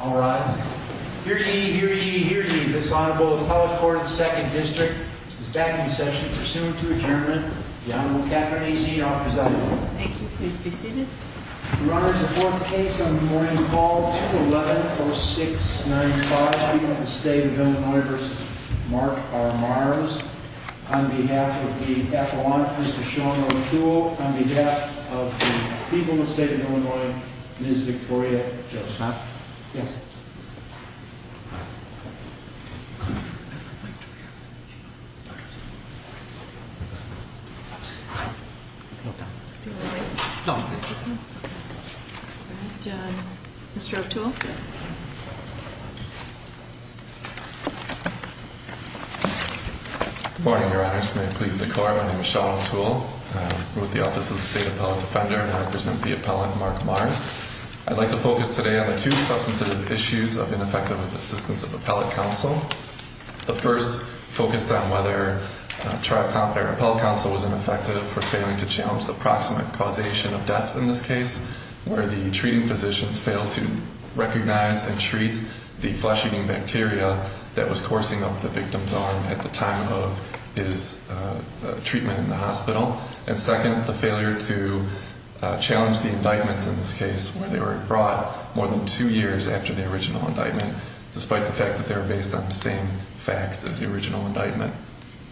All rise. Hear ye, hear ye, hear ye, this Honorable Appellate Court of the 2nd District is back in session. Pursuant to adjournment, the Honorable Catherine A. Zee offers up the floor. Thank you. Please be seated. Your Honor, it's the fourth case on the morning call, 211-0695. People in the State of Illinois v. Mark R. Mars. On behalf of the Apollonist, Mr. Sean O'Toole. On behalf of the people in the State of Illinois, Ms. Victoria Joseph. Yes. Mr. O'Toole. Good morning, Your Honor. This may please the Court. My name is Sean O'Toole. I'm with the Office of the State Appellate Defender, and I present the Appellant, Mark Mars. I'd like to focus today on the two substantive issues of ineffective assistance of Appellate Counsel. The first focused on whether Tri-Comp or Appellate Counsel was ineffective for failing to challenge the proximate causation of death in this case, where the treating physicians failed to recognize and treat the flesh-eating bacteria that was coursing up the victim's arm at the time of his treatment in the hospital. And second, the failure to challenge the indictments in this case, where they were brought more than two years after the original indictment, despite the fact that they were based on the same facts as the original indictment.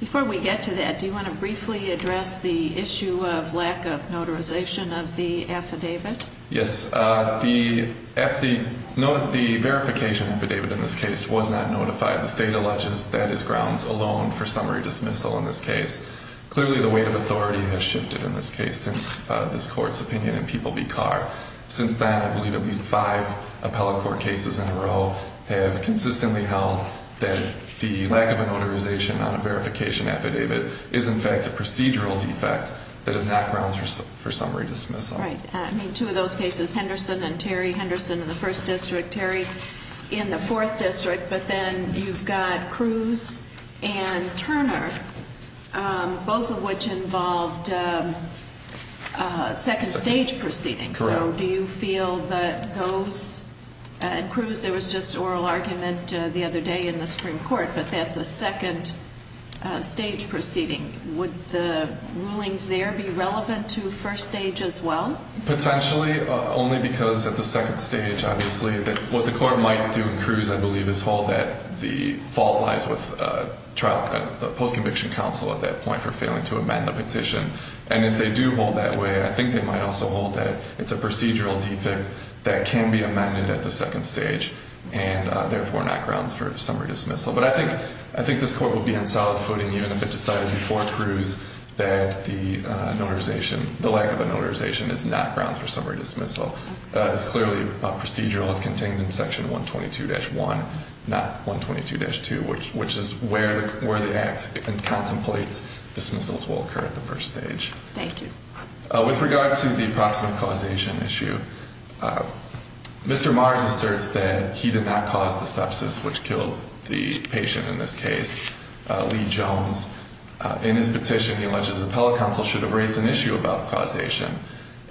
Before we get to that, do you want to briefly address the issue of lack of notarization of the affidavit? Yes. The verification affidavit in this case was not notified. The State alleges that is grounds alone for summary dismissal in this case. Clearly, the weight of authority has shifted in this case since this Court's opinion in People v. Carr. Since then, I believe at least five appellate court cases in a row have consistently held that the lack of a notarization on a verification affidavit is, in fact, a procedural defect that is not grounds for summary dismissal. Right. I mean, two of those cases, Henderson and Terry, Henderson in the First District, Terry in the Fourth District. But then you've got Cruz and Turner, both of which involved second-stage proceedings. Correct. So do you feel that those—and Cruz, there was just oral argument the other day in the Supreme Court, but that's a second-stage proceeding. Would the rulings there be relevant to first stage as well? Potentially, only because at the second stage, obviously, what the Court might do in Cruz, I believe, is hold that the fault lies with the post-conviction counsel at that point for failing to amend the petition. And if they do hold that way, I think they might also hold that it's a procedural defect that can be amended at the second stage and, therefore, not grounds for summary dismissal. But I think this Court would be on solid footing even if it decided before Cruz that the lack of a notarization is not grounds for summary dismissal. It's clearly a procedural. It's contained in Section 122-1, not 122-2, which is where the Act contemplates dismissals will occur at the first stage. Thank you. With regard to the proximate causation issue, Mr. Mars asserts that he did not cause the sepsis which killed the patient in this case, Lee Jones. In his petition, he alleges the appellate counsel should have raised an issue about causation,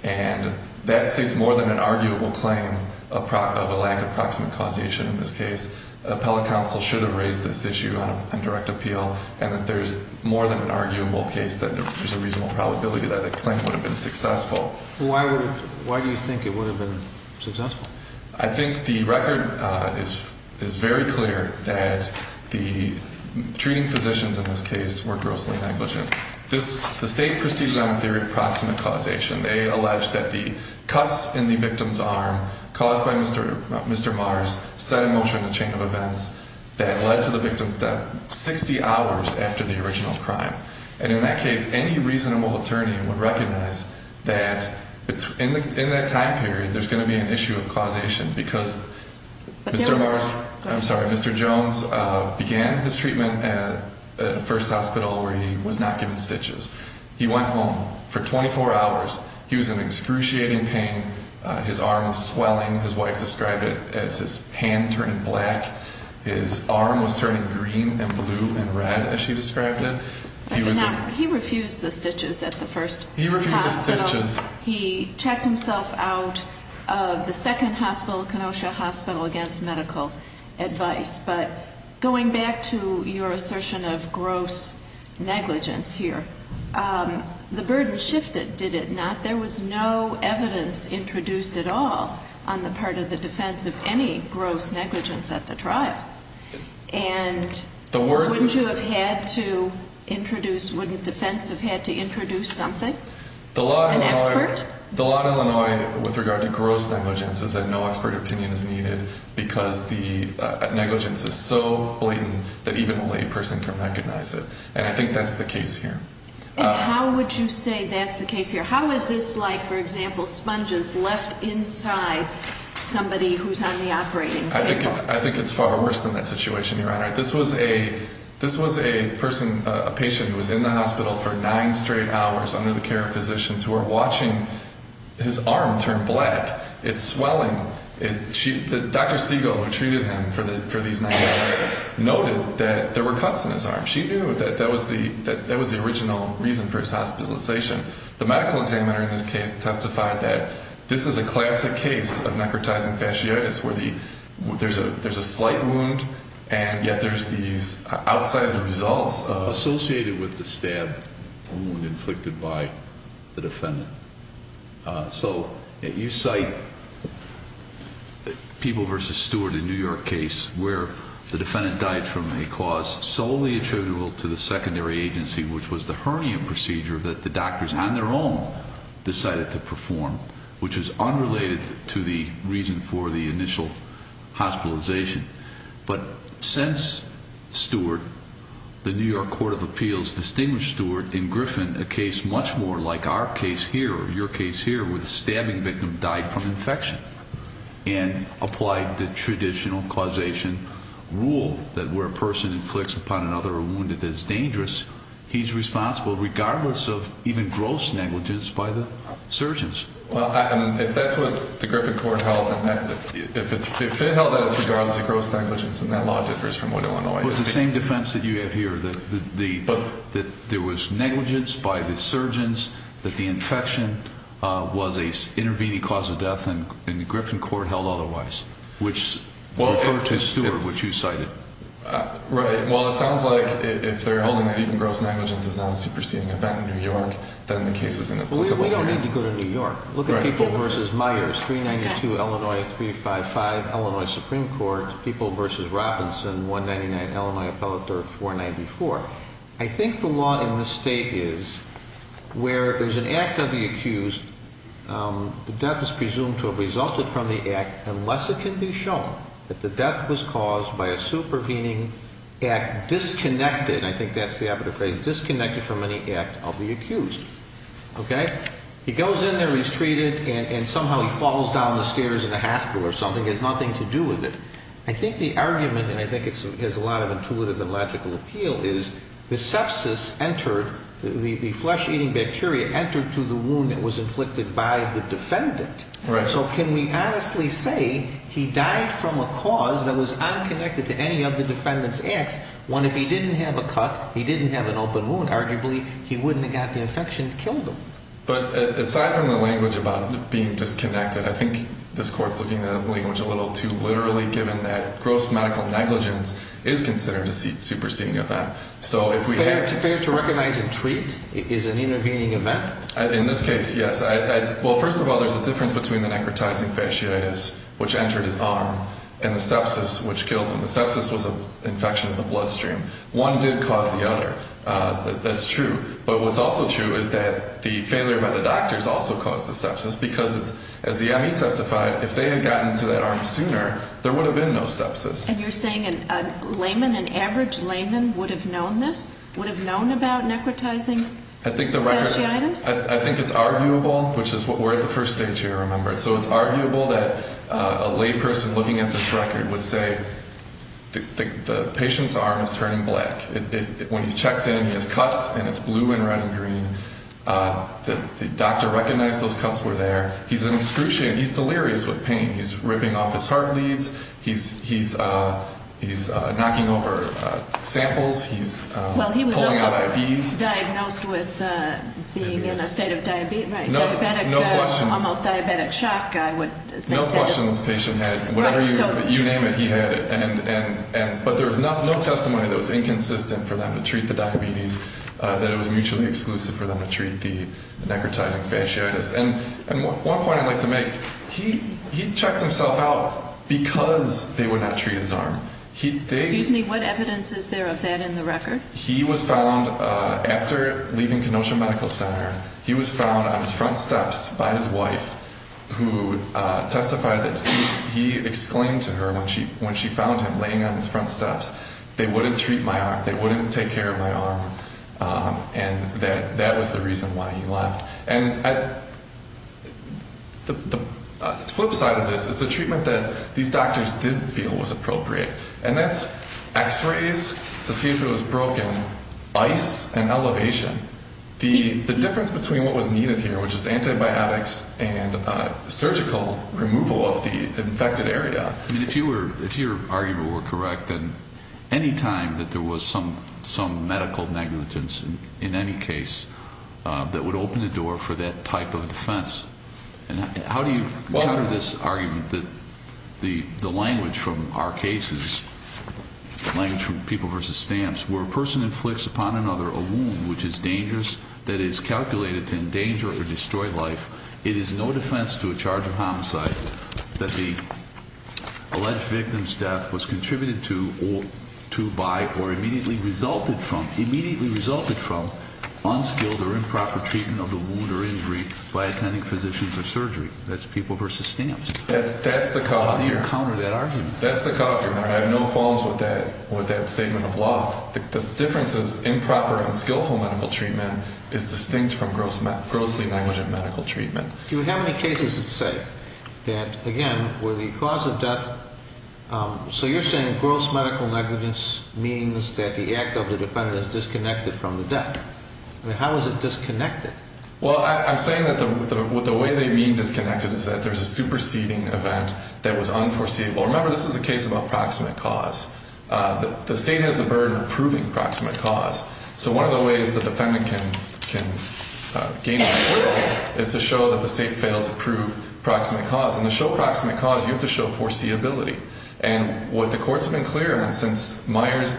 and that states more than an arguable claim of a lack of proximate causation in this case. The appellate counsel should have raised this issue on direct appeal, and that there's more than an arguable case that there's a reasonable probability that a claim would have been successful. Why do you think it would have been successful? I think the record is very clear that the treating physicians in this case were grossly negligent. The state proceeded on a theory of proximate causation. They allege that the cuts in the victim's arm caused by Mr. Mars set in motion a chain of events that led to the victim's death 60 hours after the original crime. And in that case, any reasonable attorney would recognize that in that time period, there's going to be an issue of causation, because Mr. Jones began his treatment at First Hospital where he was not given stitches. He went home for 24 hours. He was in excruciating pain. His arm was swelling. His wife described it as his hand turning black. His arm was turning green and blue and red, as she described it. He refused the stitches at the First Hospital. He refused the stitches. He checked himself out of the Second Hospital, Kenosha Hospital, against medical advice. But going back to your assertion of gross negligence here, the burden shifted, did it not? There was no evidence introduced at all on the part of the defense of any gross negligence at the trial. And wouldn't you have had to introduce, wouldn't defense have had to introduce something? An expert? The law in Illinois with regard to gross negligence is that no expert opinion is needed, because the negligence is so blatant that even a lay person can recognize it. And I think that's the case here. And how would you say that's the case here? How is this like, for example, sponges left inside somebody who's on the operating table? I think it's far worse than that situation, Your Honor. This was a person, a patient who was in the hospital for nine straight hours under the care of physicians who are watching his arm turn black. It's swelling. Dr. Siegel, who treated him for these nine hours, noted that there were cuts in his arm. She knew that that was the original reason for his hospitalization. The medical examiner in this case testified that this is a classic case of necrotizing fasciitis, where there's a slight wound, and yet there's these outsized results associated with the stab wound inflicted by the defendant. So you cite the Peeble v. Stewart in New York case, where the defendant died from a cause solely attributable to the secondary agency, which was the hernia procedure that the doctors on their own decided to perform, which is unrelated to the reason for the initial hospitalization. But since Stewart, the New York Court of Appeals distinguished Stewart in Griffin, a case much more like our case here or your case here, where the stabbing victim died from infection, and applied the traditional causation rule that where a person inflicts upon another a wound that is dangerous, he's responsible regardless of even gross negligence by the surgeons. Well, if that's what the Griffin Court held, if it held that it's regardless of gross negligence, then that law differs from what it went away. Well, it's the same defense that you have here, that there was negligence by the surgeons, that the infection was an intervening cause of death, and the Griffin Court held otherwise, which referred to Stewart, which you cited. Right. Well, it sounds like if they're holding that even gross negligence is not a superseding event in New York, then the case is inapplicable here. We don't need to go to New York. Look at People v. Myers, 392 Illinois, 355 Illinois Supreme Court, People v. Robinson, 199 Illinois Appellate Dirt, 494. I think the law in this state is where there's an act of the accused, the death is presumed to have resulted from the act unless it can be shown that the death was caused by a supervening act disconnected, I think that's the operative phrase, disconnected from any act of the accused. Okay? He goes in there, he's treated, and somehow he falls down the stairs in a hospital or something, has nothing to do with it. I think the argument, and I think it has a lot of intuitive and logical appeal, is the sepsis entered, the flesh-eating bacteria entered to the wound that was inflicted by the defendant. Right. So can we honestly say he died from a cause that was unconnected to any of the defendant's acts? One, if he didn't have a cut, he didn't have an open wound, arguably he wouldn't have got the infection and killed him. But aside from the language about being disconnected, I think this Court's looking at the language a little too literally, given that gross medical negligence is considered a superseding event. Fair to recognize and treat is an intervening event? In this case, yes. Well, first of all, there's a difference between the necrotizing fasciitis, which entered his arm, and the sepsis which killed him. The sepsis was an infection of the bloodstream. One did cause the other. That's true. But what's also true is that the failure by the doctors also caused the sepsis because, as the ME testified, if they had gotten to that arm sooner, there would have been no sepsis. And you're saying a layman, an average layman, would have known this, would have known about necrotizing fasciitis? I think it's arguable, which is what we're at the first stage here, remember. So it's arguable that a layperson looking at this record would say the patient's arm is turning black. When he's checked in, he has cuts, and it's blue and red and green. The doctor recognized those cuts were there. He's delirious with pain. He's ripping off his heart leads. He's knocking over samples. He's pulling out IVs. He was diagnosed with being in a state of diabetes. Right. Diabetic, almost diabetic shock, I would think. No question this patient had whatever you name it, he had it. But there was no testimony that was inconsistent for them to treat the diabetes, that it was mutually exclusive for them to treat the necrotizing fasciitis. And one point I'd like to make, he checked himself out because they would not treat his arm. Excuse me, what evidence is there of that in the record? He was found, after leaving Kenosha Medical Center, he was found on his front steps by his wife, who testified that he exclaimed to her when she found him laying on his front steps, they wouldn't treat my arm, they wouldn't take care of my arm, and that was the reason why he left. And the flip side of this is the treatment that these doctors didn't feel was appropriate, and that's x-rays to see if it was broken, ice and elevation. The difference between what was needed here, which is antibiotics and surgical removal of the infected area. If your argument were correct, then any time that there was some medical negligence in any case that would open the door for that type of defense. And how do you counter this argument that the language from our cases, language from People vs. Stamps, where a person inflicts upon another a wound which is dangerous, that is calculated to endanger or destroy life, it is no defense to a charge of homicide that the alleged victim's death was contributed to by or immediately resulted from unskilled or improper treatment of the wound or injury by attending physicians or surgery. That's People vs. Stamps. That's the cutoff here. How do you counter that argument? That's the cutoff here. I have no qualms with that statement of law. The difference is improper and skillful medical treatment is distinct from grossly negligent medical treatment. Do you have any cases that say that, again, where the cause of death... So you're saying gross medical negligence means that the act of the defendant is disconnected from the death. How is it disconnected? Well, I'm saying that the way they mean disconnected is that there's a superseding event that was unforeseeable. Remember, this is a case about proximate cause. The state has the burden of proving proximate cause. So one of the ways the defendant can gain approval is to show that the state failed to prove proximate cause. And to show proximate cause, you have to show foreseeability. And what the courts have been clear on since Brackett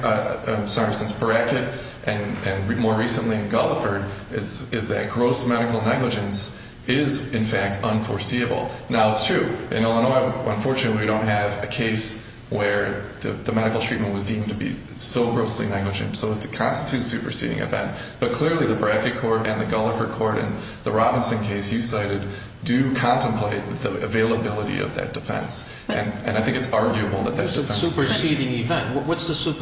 and more recently in Gulliford is that gross medical negligence is, in fact, unforeseeable. Now, it's true. In Illinois, unfortunately, we don't have a case where the medical treatment was deemed to be so grossly negligent. So it constitutes a superseding event. But clearly the Brackett court and the Gulliford court and the Robinson case you cited do contemplate the availability of that defense. And I think it's arguable that that defense is superseding. Superseding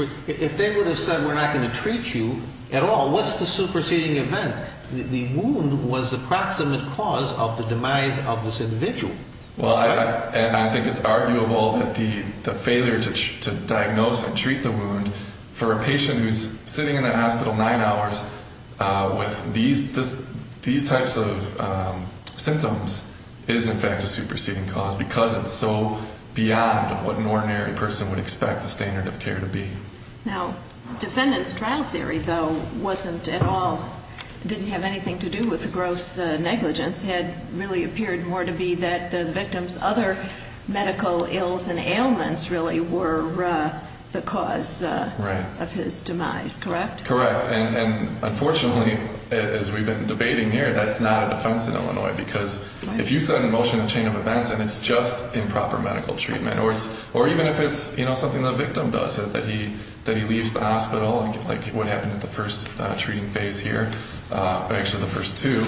event. If they would have said we're not going to treat you at all, what's the superseding event? The wound was the proximate cause of the demise of this individual. Well, and I think it's arguable that the failure to diagnose and treat the wound for a patient who's sitting in that hospital nine hours with these types of symptoms is, in fact, a superseding cause because it's so beyond what an ordinary person would expect the standard of care to be. Now, defendant's trial theory, though, wasn't at all, didn't have anything to do with the gross negligence. It really appeared more to be that the victim's other medical ills and ailments really were the cause of his demise, correct? Correct. And unfortunately, as we've been debating here, that's not a defense in Illinois because if you set in motion a chain of events and it's just improper medical treatment, or even if it's something the victim does, that he leaves the hospital, like what happened at the first treating phase here, actually the first two,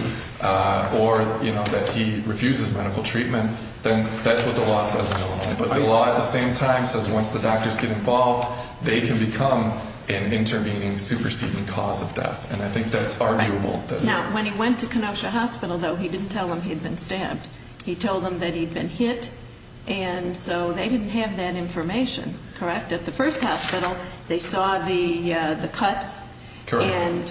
or that he refuses medical treatment, then that's what the law says in Illinois. But the law at the same time says once the doctors get involved, they can become an intervening, superseding cause of death. And I think that's arguable. Now, when he went to Kenosha Hospital, though, he didn't tell them he'd been stabbed. He told them that he'd been hit, and so they didn't have that information, correct? At the first hospital, they saw the cuts and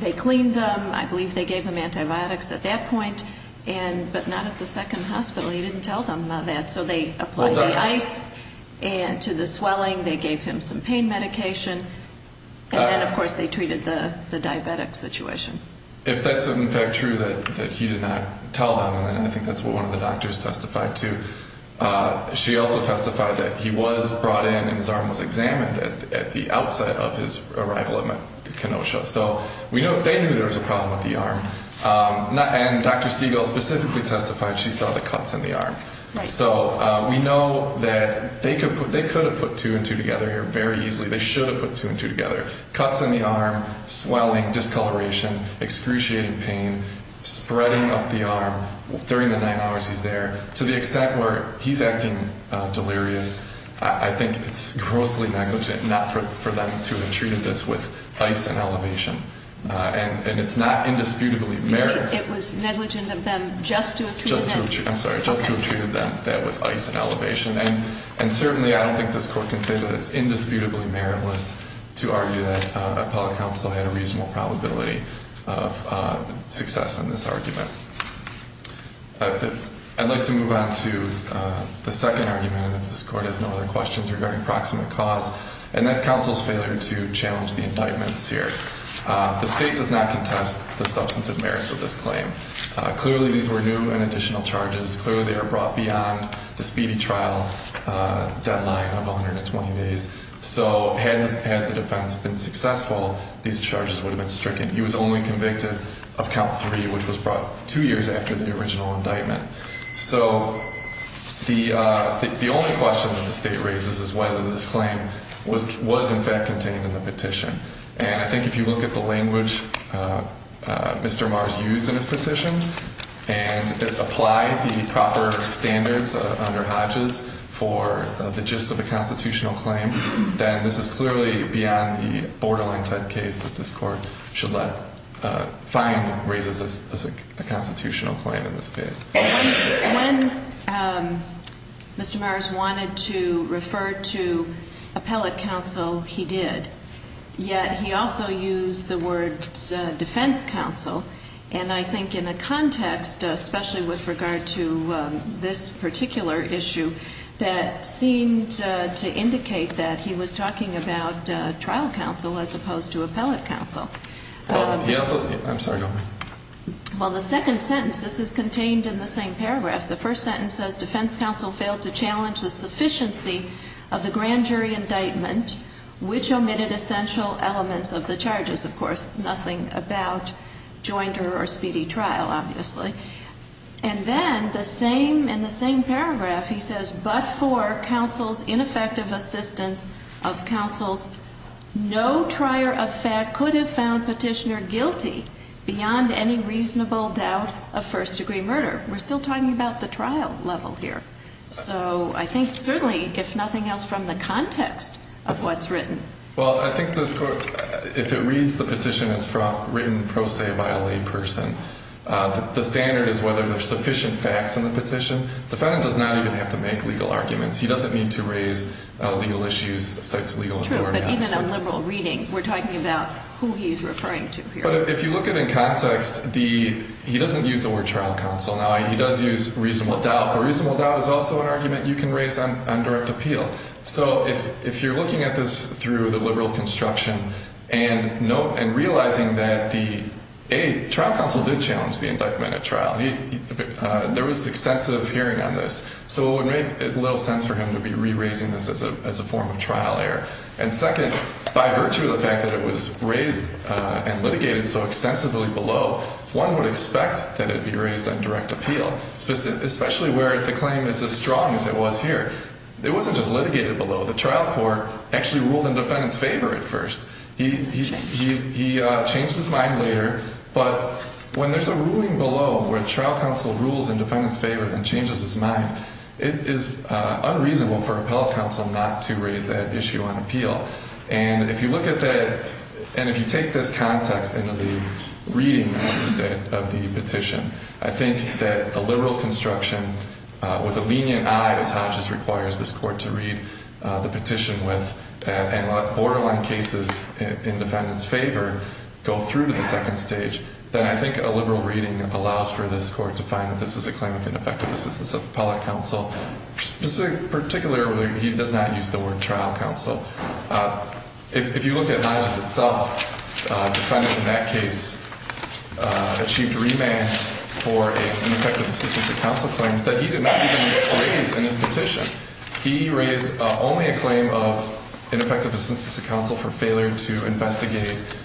they cleaned them. I believe they gave him antibiotics at that point, but not at the second hospital. He didn't tell them that, so they applied the ice to the swelling. They gave him some pain medication, and then, of course, they treated the diabetic situation. If that's, in fact, true that he did not tell them, then I think that's what one of the doctors testified to. She also testified that he was brought in and his arm was examined at the outset of his arrival at Kenosha. So they knew there was a problem with the arm. And Dr. Siegel specifically testified she saw the cuts in the arm. So we know that they could have put two and two together here very easily. They should have put two and two together. Cuts in the arm, swelling, discoloration, excruciating pain, spreading of the arm during the 9 hours he's there. To the extent where he's acting delirious, I think it's grossly negligent not for them to have treated this with ice and elevation. And it's not indisputable. It was negligent of them just to have treated that. I'm sorry, just to have treated that with ice and elevation. And certainly, I don't think this court can say that it's indisputably meritless to argue that appellate counsel had a reasonable probability of success in this argument. I'd like to move on to the second argument, if this court has no other questions regarding proximate cause. And that's counsel's failure to challenge the indictments here. The state does not contest the substantive merits of this claim. Clearly, these were new and additional charges. Clearly, they are brought beyond the speedy trial deadline of 120 days. So had the defense been successful, these charges would have been stricken. He was only convicted of count three, which was brought two years after the original indictment. So the only question that the state raises is whether this claim was in fact contained in the petition. And I think if you look at the language Mr. Mars used in his petition and apply the proper standards under Hodges for the gist of a constitutional claim, then this is clearly beyond the borderline type case that this court should let find raises as a constitutional claim in this case. When Mr. Mars wanted to refer to appellate counsel, he did. Yet he also used the words defense counsel. And I think in a context, especially with regard to this particular issue, that seemed to indicate that he was talking about trial counsel as opposed to appellate counsel. I'm sorry. Well, the second sentence, this is contained in the same paragraph. The first sentence says defense counsel failed to challenge the sufficiency of the grand jury indictment, which omitted essential elements of the charges. Of course, nothing about joinder or speedy trial, obviously. And then in the same paragraph, he says, but for counsel's ineffective assistance of counsel's no trier of fact could have found petitioner guilty beyond any reasonable doubt of first-degree murder. We're still talking about the trial level here. So I think certainly, if nothing else, from the context of what's written. Well, I think this court, if it reads the petition, it's written pro se by a lay person. The standard is whether there's sufficient facts in the petition. Defendant does not even have to make legal arguments. He doesn't need to raise legal issues, cite legal authority. True, but even on liberal reading, we're talking about who he's referring to here. But if you look at it in context, he doesn't use the word trial counsel. Now, he does use reasonable doubt. But reasonable doubt is also an argument you can raise on direct appeal. So if you're looking at this through the liberal construction and realizing that, A, trial counsel did challenge the indictment at trial. There was extensive hearing on this. So it would make little sense for him to be re-raising this as a form of trial error. And second, by virtue of the fact that it was raised and litigated so extensively below, one would expect that it be raised on direct appeal, especially where the claim is as strong as it was here. It wasn't just litigated below. The trial court actually ruled in defendant's favor at first. He changed his mind later. But when there's a ruling below where trial counsel rules in defendant's favor and changes his mind, it is unreasonable for appellate counsel not to raise that issue on appeal. And if you look at that, and if you take this context into the reading of the petition, I think that a liberal construction with a lenient eye, as Hodges requires this court to read the petition with, and let borderline cases in defendant's favor go through to the second stage, then I think a liberal reading allows for this court to find that this is a claim of ineffective assistance of appellate counsel. Particularly, he does not use the word trial counsel. If you look at Hodges itself, the defendant in that case achieved remand for an ineffective assistance of counsel claim that he did not even raise in his petition. He raised only a claim of ineffective assistance of counsel for failure to investigate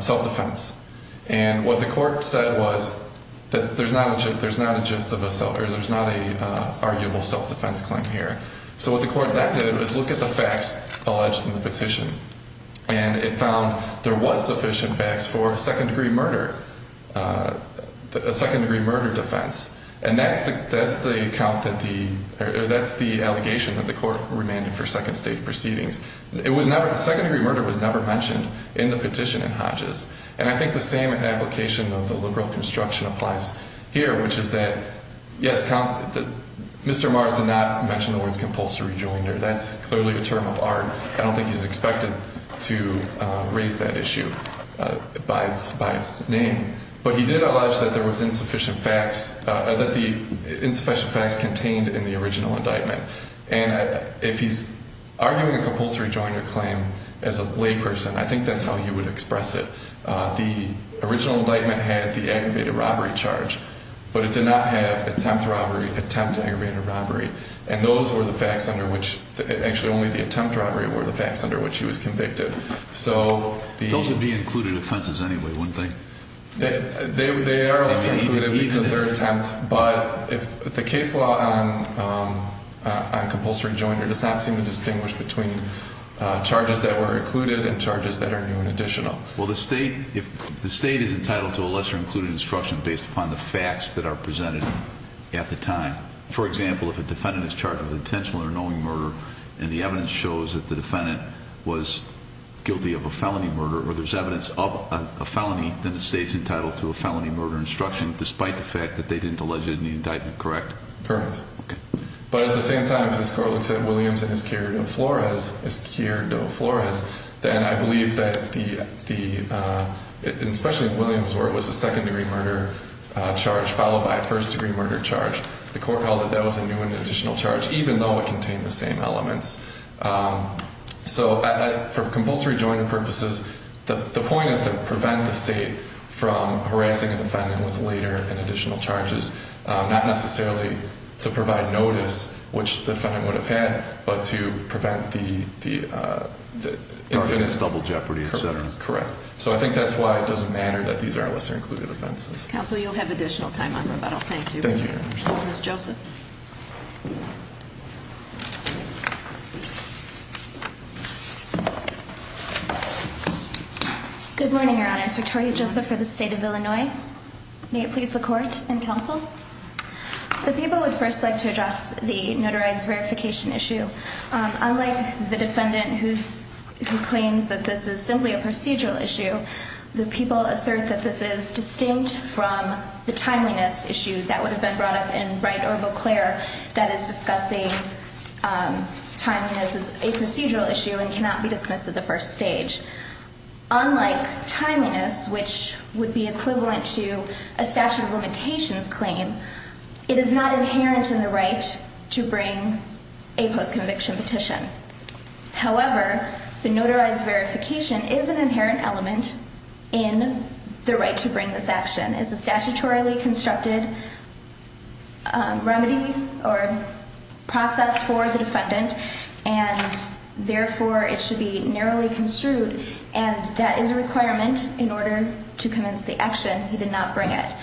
self-defense. And what the court said was there's not a just of a self, or there's not an arguable self-defense claim here. So what the court then did was look at the facts alleged in the petition. And it found there was sufficient facts for a second-degree murder, a second-degree murder defense. And that's the allegation that the court remanded for second-stage proceedings. The second-degree murder was never mentioned in the petition in Hodges. And I think the same application of the liberal construction applies here, which is that, yes, Mr. Mars did not mention the words compulsory rejoinder. That's clearly a term of art. I don't think he's expected to raise that issue by its name. But he did allege that there was insufficient facts, that the insufficient facts contained in the original indictment. And if he's arguing a compulsory rejoinder claim as a layperson, I think that's how he would express it. The original indictment had the aggravated robbery charge, but it did not have attempt robbery, attempt aggravated robbery. And those were the facts under which, actually only the attempt robbery were the facts under which he was convicted. Those would be included offenses anyway, wouldn't they? They are lesser included because they're attempt. But the case law on compulsory rejoinder does not seem to distinguish between charges that were included and charges that are new and additional. Well, the state is entitled to a lesser included instruction based upon the facts that are presented at the time. For example, if a defendant is charged with intentional or knowing murder, and the evidence shows that the defendant was guilty of a felony murder, or there's evidence of a felony, then the state's entitled to a felony murder instruction, despite the fact that they didn't allege it in the indictment, correct? Correct. But at the same time, if this court looks at Williams and Isquierdo Flores, then I believe that the, especially if Williams was a second degree murder charge followed by a first degree murder charge, the court held that that was a new and additional charge, even though it contained the same elements. So, for compulsory rejoinder purposes, the point is to prevent the state from harassing a defendant with later and additional charges, not necessarily to provide notice, which the defendant would have had, but to prevent the infinite double jeopardy, et cetera. Correct. So I think that's why it doesn't matter that these are lesser included offenses. Counsel, you'll have additional time on rebuttal. Thank you. Ms. Joseph. Good morning, Your Honors. Victoria Joseph for the state of Illinois. May it please the court and counsel. The people would first like to address the notarized verification issue. Unlike the defendant who claims that this is simply a procedural issue, the people assert that this is distinct from the timeliness issue that would have been brought up in Wright or Beauclair that is discussing timeliness as a procedural issue and cannot be dismissed at the first stage. Unlike timeliness, which would be equivalent to a statute of limitations claim, it is not inherent in the right to bring a postconviction petition. However, the notarized verification is an inherent element in the right to bring this action. The notarized verification is a statutorily constructed remedy or process for the defendant, and therefore it should be narrowly construed, and that is a requirement in order to convince the action he did not bring it.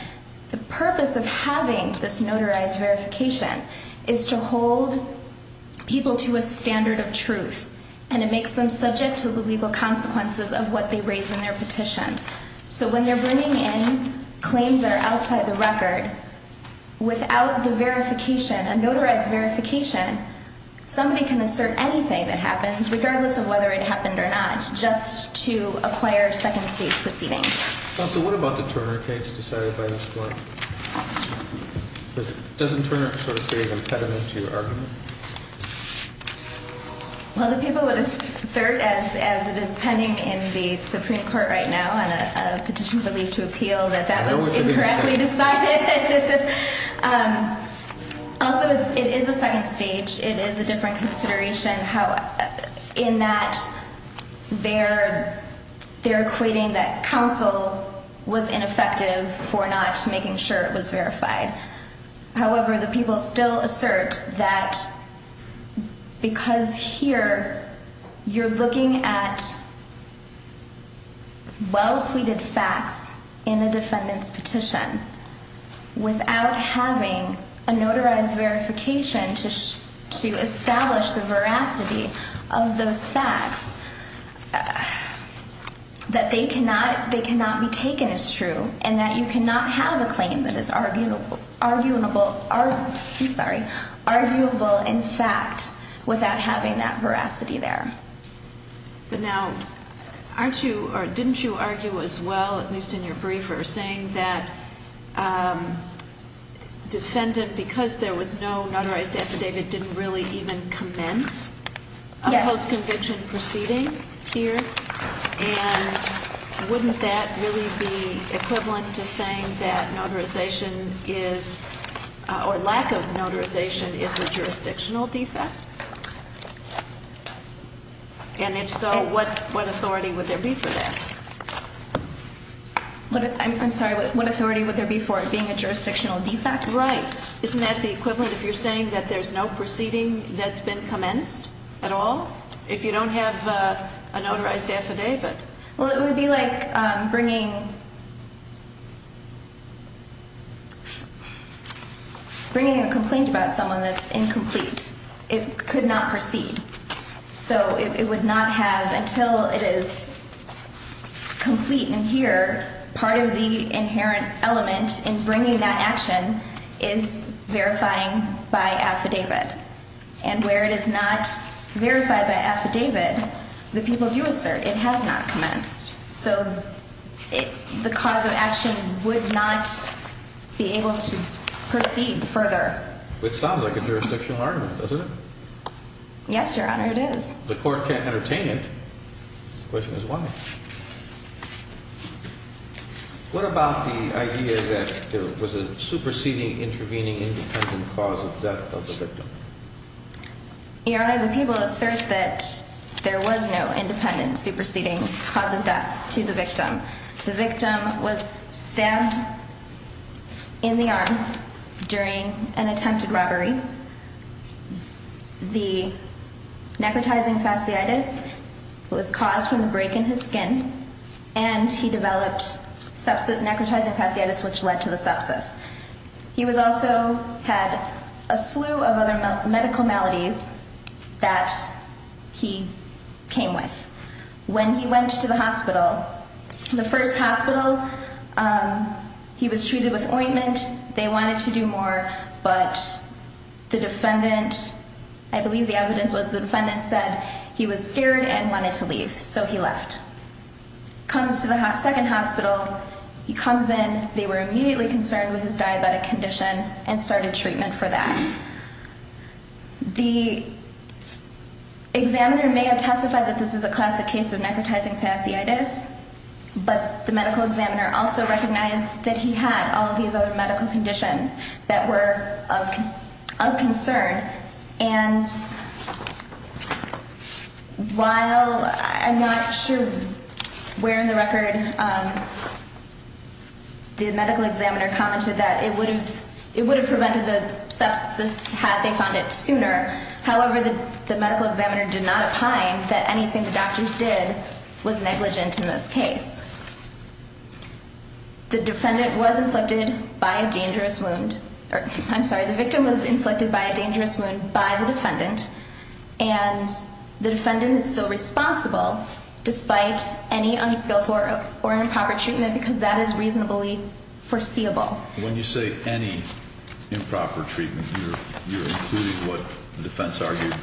The purpose of having this notarized verification is to hold people to a standard of truth, and it makes them subject to the legal consequences of what they raise in their petition. So when they're bringing in claims that are outside the record, without the verification, a notarized verification, somebody can assert anything that happens, regardless of whether it happened or not, just to acquire second-stage proceedings. Counsel, what about the Turner case decided by this court? Doesn't Turner sort of behave impediment to your argument? Well, the people would assert, as it is pending in the Supreme Court right now on a petition for leave to appeal, that that was incorrectly decided. Also, it is a second stage. It is a different consideration in that they're equating that counsel was ineffective for not making sure it was verified. However, the people still assert that because here you're looking at well-pleaded facts in a defendant's petition without having a notarized verification to establish the veracity of those facts, that they cannot be taken as true and that you cannot have a claim that is arguable. I'm sorry, arguable in fact, without having that veracity there. But now, didn't you argue as well, at least in your brief, or saying that defendant, because there was no notarized affidavit, didn't really even commence a post-conviction proceeding here? Yes. And wouldn't that really be equivalent to saying that notarization is, or lack of notarization is a jurisdictional defect? And if so, what authority would there be for that? I'm sorry, what authority would there be for it being a jurisdictional defect? Right. Isn't that the equivalent if you're saying that there's no proceeding that's been commenced at all, if you don't have a notarized affidavit? Well, it would be like bringing a complaint about someone that's incomplete. It could not proceed. So it would not have, until it is complete and here, part of the inherent element in bringing that action is verifying by affidavit. And where it is not verified by affidavit, the people do assert it has not commenced. So the cause of action would not be able to proceed further. Which sounds like a jurisdictional argument, doesn't it? Yes, Your Honor, it is. The court can't entertain it. The question is why. What about the idea that there was a superseding, intervening, independent cause of death of the victim? Your Honor, the people assert that there was no independent, superseding cause of death to the victim. The victim was stabbed in the arm during an attempted robbery. The necrotizing fasciitis was caused from the break in his skin and he developed necrotizing fasciitis, which led to the sepsis. He also had a slew of other medical maladies that he came with. When he went to the hospital, the first hospital, he was treated with ointment. They wanted to do more, but the defendant, I believe the evidence was the defendant said he was scared and wanted to leave, so he left. Comes to the second hospital, he comes in, they were immediately concerned with his diabetic condition and started treatment for that. The examiner may have testified that this is a classic case of necrotizing fasciitis, but the medical examiner also recognized that he had all of these other medical conditions that were of concern. And while I'm not sure where in the record the medical examiner commented that it would have prevented the sepsis had they found it sooner, however, the medical examiner did not opine that anything the doctors did was negligent in this case. The defendant was inflicted by a dangerous wound, I'm sorry, the victim was inflicted by a dangerous wound by the defendant, and the defendant is still responsible despite any unskillful or improper treatment because that is reasonably foreseeable. When you say any improper treatment, you're including what the defense argued,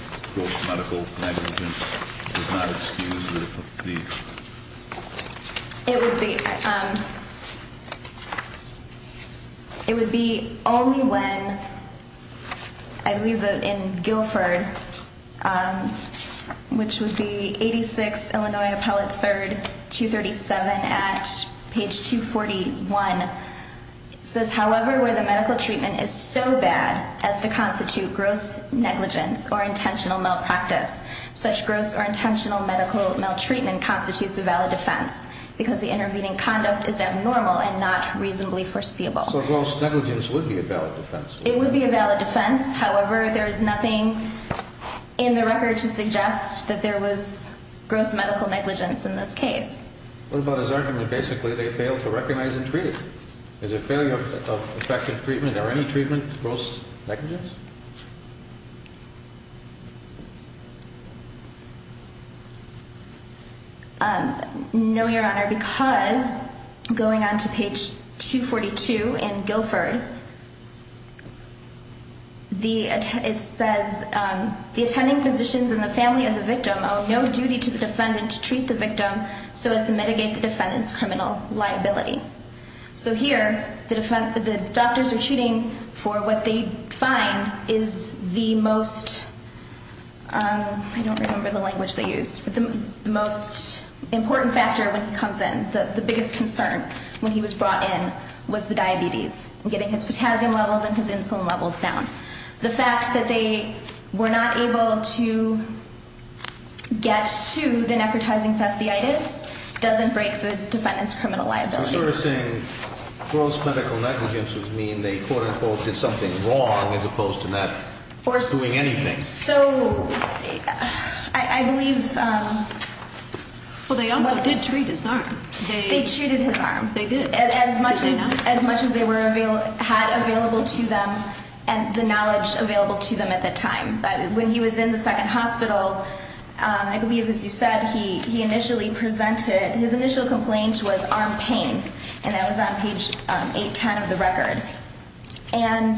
medical negligence is not excused. It would be only when, I believe in Guilford, which would be 86 Illinois Appellate 3rd, 237 at page 241, it says, however, where the medical treatment is so bad as to constitute gross negligence or intentional malpractice, such gross or intentional medical maltreatment constitutes a valid defense because the intervening conduct is abnormal and not reasonably foreseeable. So gross negligence would be a valid defense. It would be a valid defense, however, there is nothing in the record to suggest that there was gross medical negligence in this case. What about his argument that basically they failed to recognize and treat it? Is a failure of effective treatment or any treatment gross negligence? No, Your Honor, because going on to page 242 in Guilford, it says, the attending physicians and the family of the victim owe no duty to the defendant to treat the victim so as to mitigate the defendant's criminal liability. So here, the doctors are treating for what they find is the most, I don't remember the language they used, but the most important factor when he comes in, the biggest concern when he was brought in was the diabetes, getting his potassium levels and his insulin levels down. The fact that they were not able to get to the necrotizing fasciitis doesn't break the defendant's criminal liability. So you're saying gross medical negligence would mean they quote-unquote did something wrong as opposed to not doing anything? So, I believe... Well, they also did treat his arm. They treated his arm. They did. As much as they had available to them and the knowledge available to them at the time. When he was in the second hospital, I believe, as you said, he initially presented, his initial complaint was arm pain, and that was on page 810 of the record. And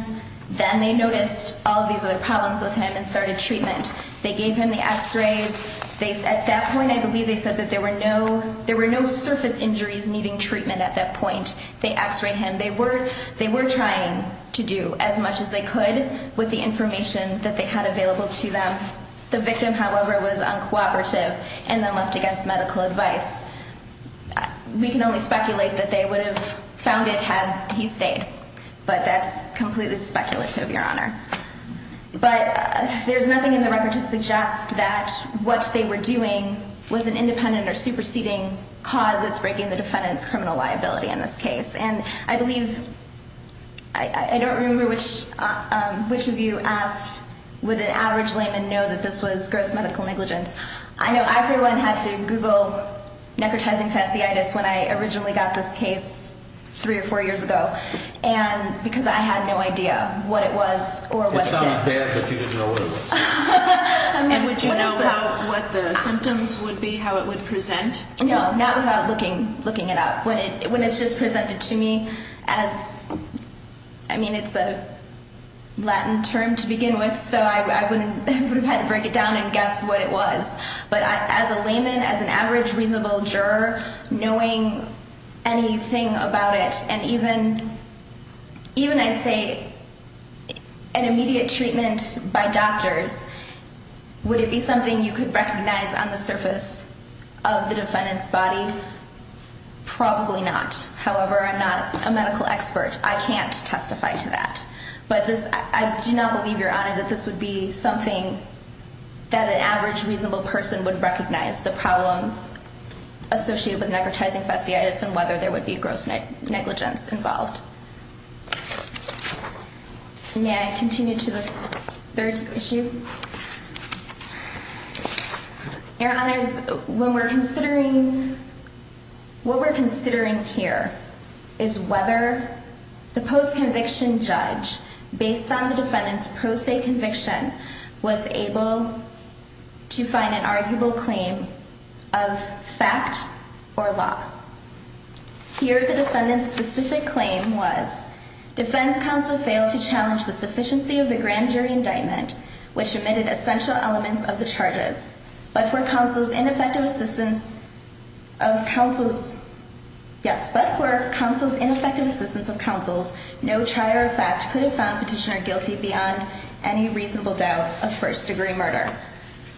then they noticed all these other problems with him and started treatment. They gave him the x-rays. At that point, I believe they said that there were no surface injuries needing treatment at that point. They x-rayed him. They were trying to do as much as they could with the information that they had available to them. The victim, however, was uncooperative and then left against medical advice. We can only speculate that they would have found it had he stayed. But that's completely speculative, Your Honor. But there's nothing in the record to suggest that what they were doing was an independent or superseding cause that's breaking the defendant's criminal liability in this case. And I believe... I don't remember which of you asked would an average layman know that this was gross medical negligence. I know everyone had to Google necrotizing fasciitis when I originally got this case three or four years ago because I had no idea what it was or what it did. It's not bad that you didn't know what it was. And would you know what the symptoms would be, how it would present? No, not without looking it up. When it's just presented to me as... I mean, it's a Latin term to begin with, so I would have had to break it down and guess what it was. But as a layman, as an average reasonable juror, knowing anything about it and even, I'd say, an immediate treatment by doctors, would it be something you could recognize on the surface of the defendant's body? Probably not. However, I'm not a medical expert. I can't testify to that. But I do not believe, Your Honor, that this would be something that an average reasonable person would recognize, the problems associated with necrotizing fasciitis and whether there would be gross negligence involved. May I continue to the third issue? Your Honors, when we're considering... is whether the post-conviction judge, based on the defendant's pro se conviction, was able to find an arguable claim of fact or law. Here, the defendant's specific claim was, defense counsel failed to challenge the sufficiency of the grand jury indictment, which omitted essential elements of the charges, but for counsel's ineffective assistance of counsels, no trial or fact could have found petitioner guilty beyond any reasonable doubt of first-degree murder.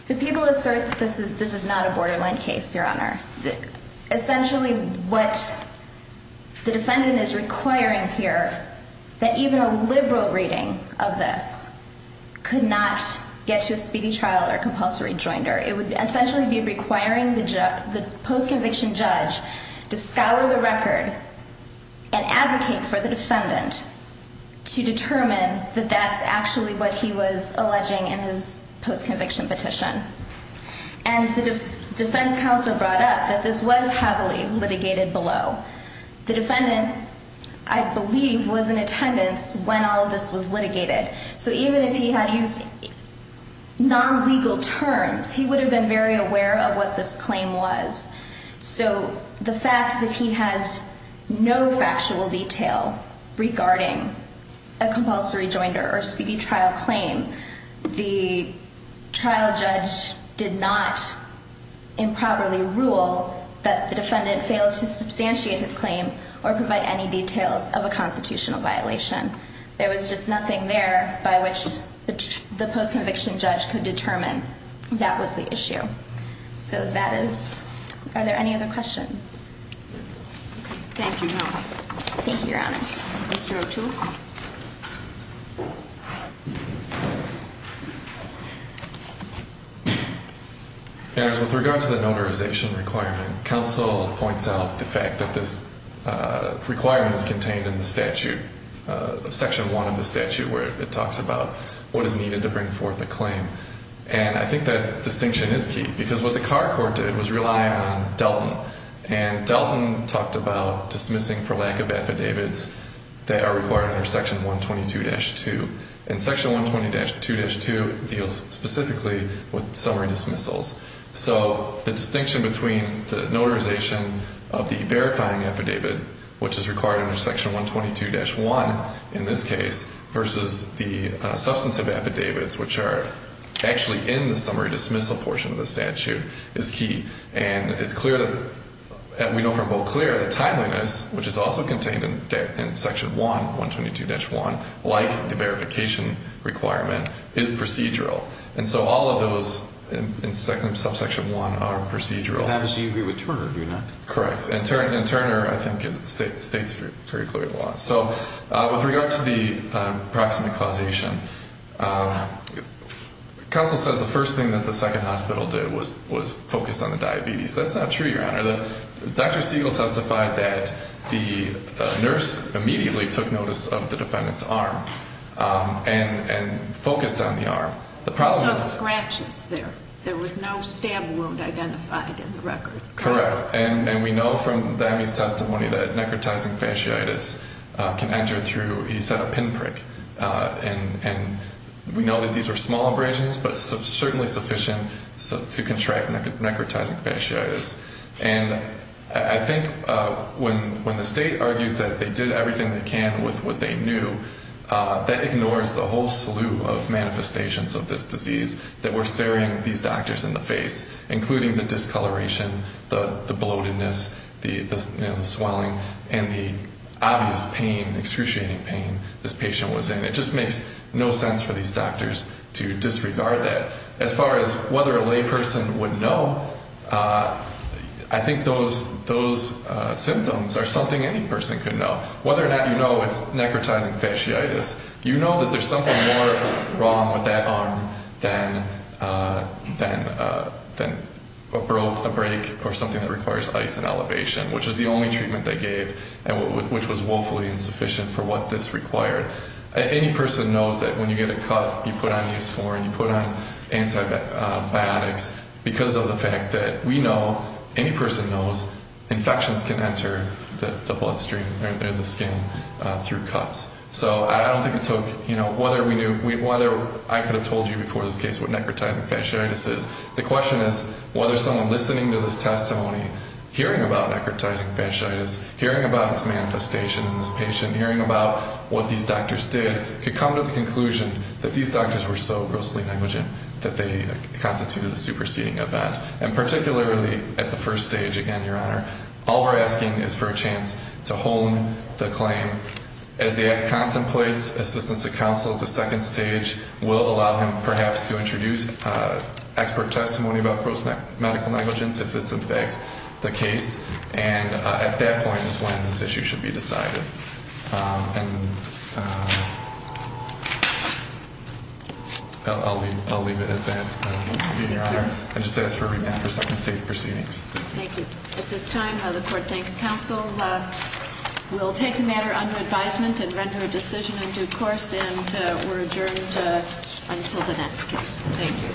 The people assert that this is not a borderline case, Your Honor. Essentially, what the defendant is requiring here, that even a liberal reading of this could not get to a speedy trial or compulsory joinder. It would essentially be requiring the post-conviction judge to scour the record and advocate for the defendant to determine that that's actually what he was alleging in his post-conviction petition. And the defense counsel brought up that this was heavily litigated below. The defendant, I believe, was in attendance when all of this was litigated. So even if he had used non-legal terms, he would have been very aware of what this claim was. So the fact that he has no factual detail regarding a compulsory joinder or speedy trial claim, the trial judge did not improperly rule that the defendant failed to substantiate his claim or provide any details of a constitutional violation. There was just nothing there by which the post-conviction judge could determine that was the issue. So that is – are there any other questions? Thank you, Your Honor. Thank you, Your Honors. Mr. O'Toole? Your Honors, with regard to the notarization requirement, counsel points out the fact that this requirement is contained in the statute, Section 1 of the statute, where it talks about what is needed to bring forth a claim. And I think that distinction is key because what the Carr Court did was rely on Delton. And Delton talked about dismissing for lack of affidavits that are required under Section 122-2. And Section 120-2-2 deals specifically with summary dismissals. So the distinction between the notarization of the verifying affidavit, which is required under Section 122-1 in this case, versus the substantive affidavits, which are actually in the summary dismissal portion of the statute, is key. And it's clear that – we know from Beauclair the timeliness, which is also contained in Section 1, 122-1, like the verification requirement, is procedural. And so all of those in subsection 1 are procedural. It happens you agree with Turner, do you not? Correct. And Turner, I think, states very clearly why. So with regard to the proximate causation, counsel says the first thing that the second hospital did was focus on the diabetes. That's not true, Your Honor. Dr. Siegel testified that the nurse immediately took notice of the defendant's arm and focused on the arm. So it scratches there. There was no stab wound identified in the record. Correct. And we know from Dami's testimony that necrotizing fasciitis can enter through, he said, a pinprick. And we know that these were small abrasions, but certainly sufficient to contract necrotizing fasciitis. And I think when the state argues that they did everything they can with what they knew, that ignores the whole slew of manifestations of this disease that were staring these doctors in the face, including the discoloration, the bloatedness, the swelling, and the obvious pain, excruciating pain this patient was in. It just makes no sense for these doctors to disregard that. As far as whether a layperson would know, I think those symptoms are something any person could know. Whether or not you know it's necrotizing fasciitis, you know that there's something more wrong with that arm than a break or something that requires ice and elevation, which is the only treatment they gave, which was woefully insufficient for what this required. Any person knows that when you get a cut, you put on the S4 and you put on antibiotics because of the fact that we know, any person knows, infections can enter the bloodstream or the skin through cuts. So I don't think it took, you know, whether I could have told you before this case what necrotizing fasciitis is. The question is whether someone listening to this testimony, hearing about necrotizing fasciitis, hearing about its manifestation in this patient, hearing about what these doctors did, could come to the conclusion that these doctors were so grossly negligent that they constituted a superseding event. And particularly at the first stage, again, Your Honor, all we're asking is for a chance to hone the claim. As the act contemplates, assistance of counsel at the second stage will allow him perhaps to introduce expert testimony about gross medical negligence if it's in fact the case. And at that point is when this issue should be decided. And I'll leave it at that, Your Honor. I just ask for a remand for second stage proceedings. Thank you. At this time, the court thanks counsel. We'll take the matter under advisement and render a decision in due course. And we're adjourned until the next case. Thank you.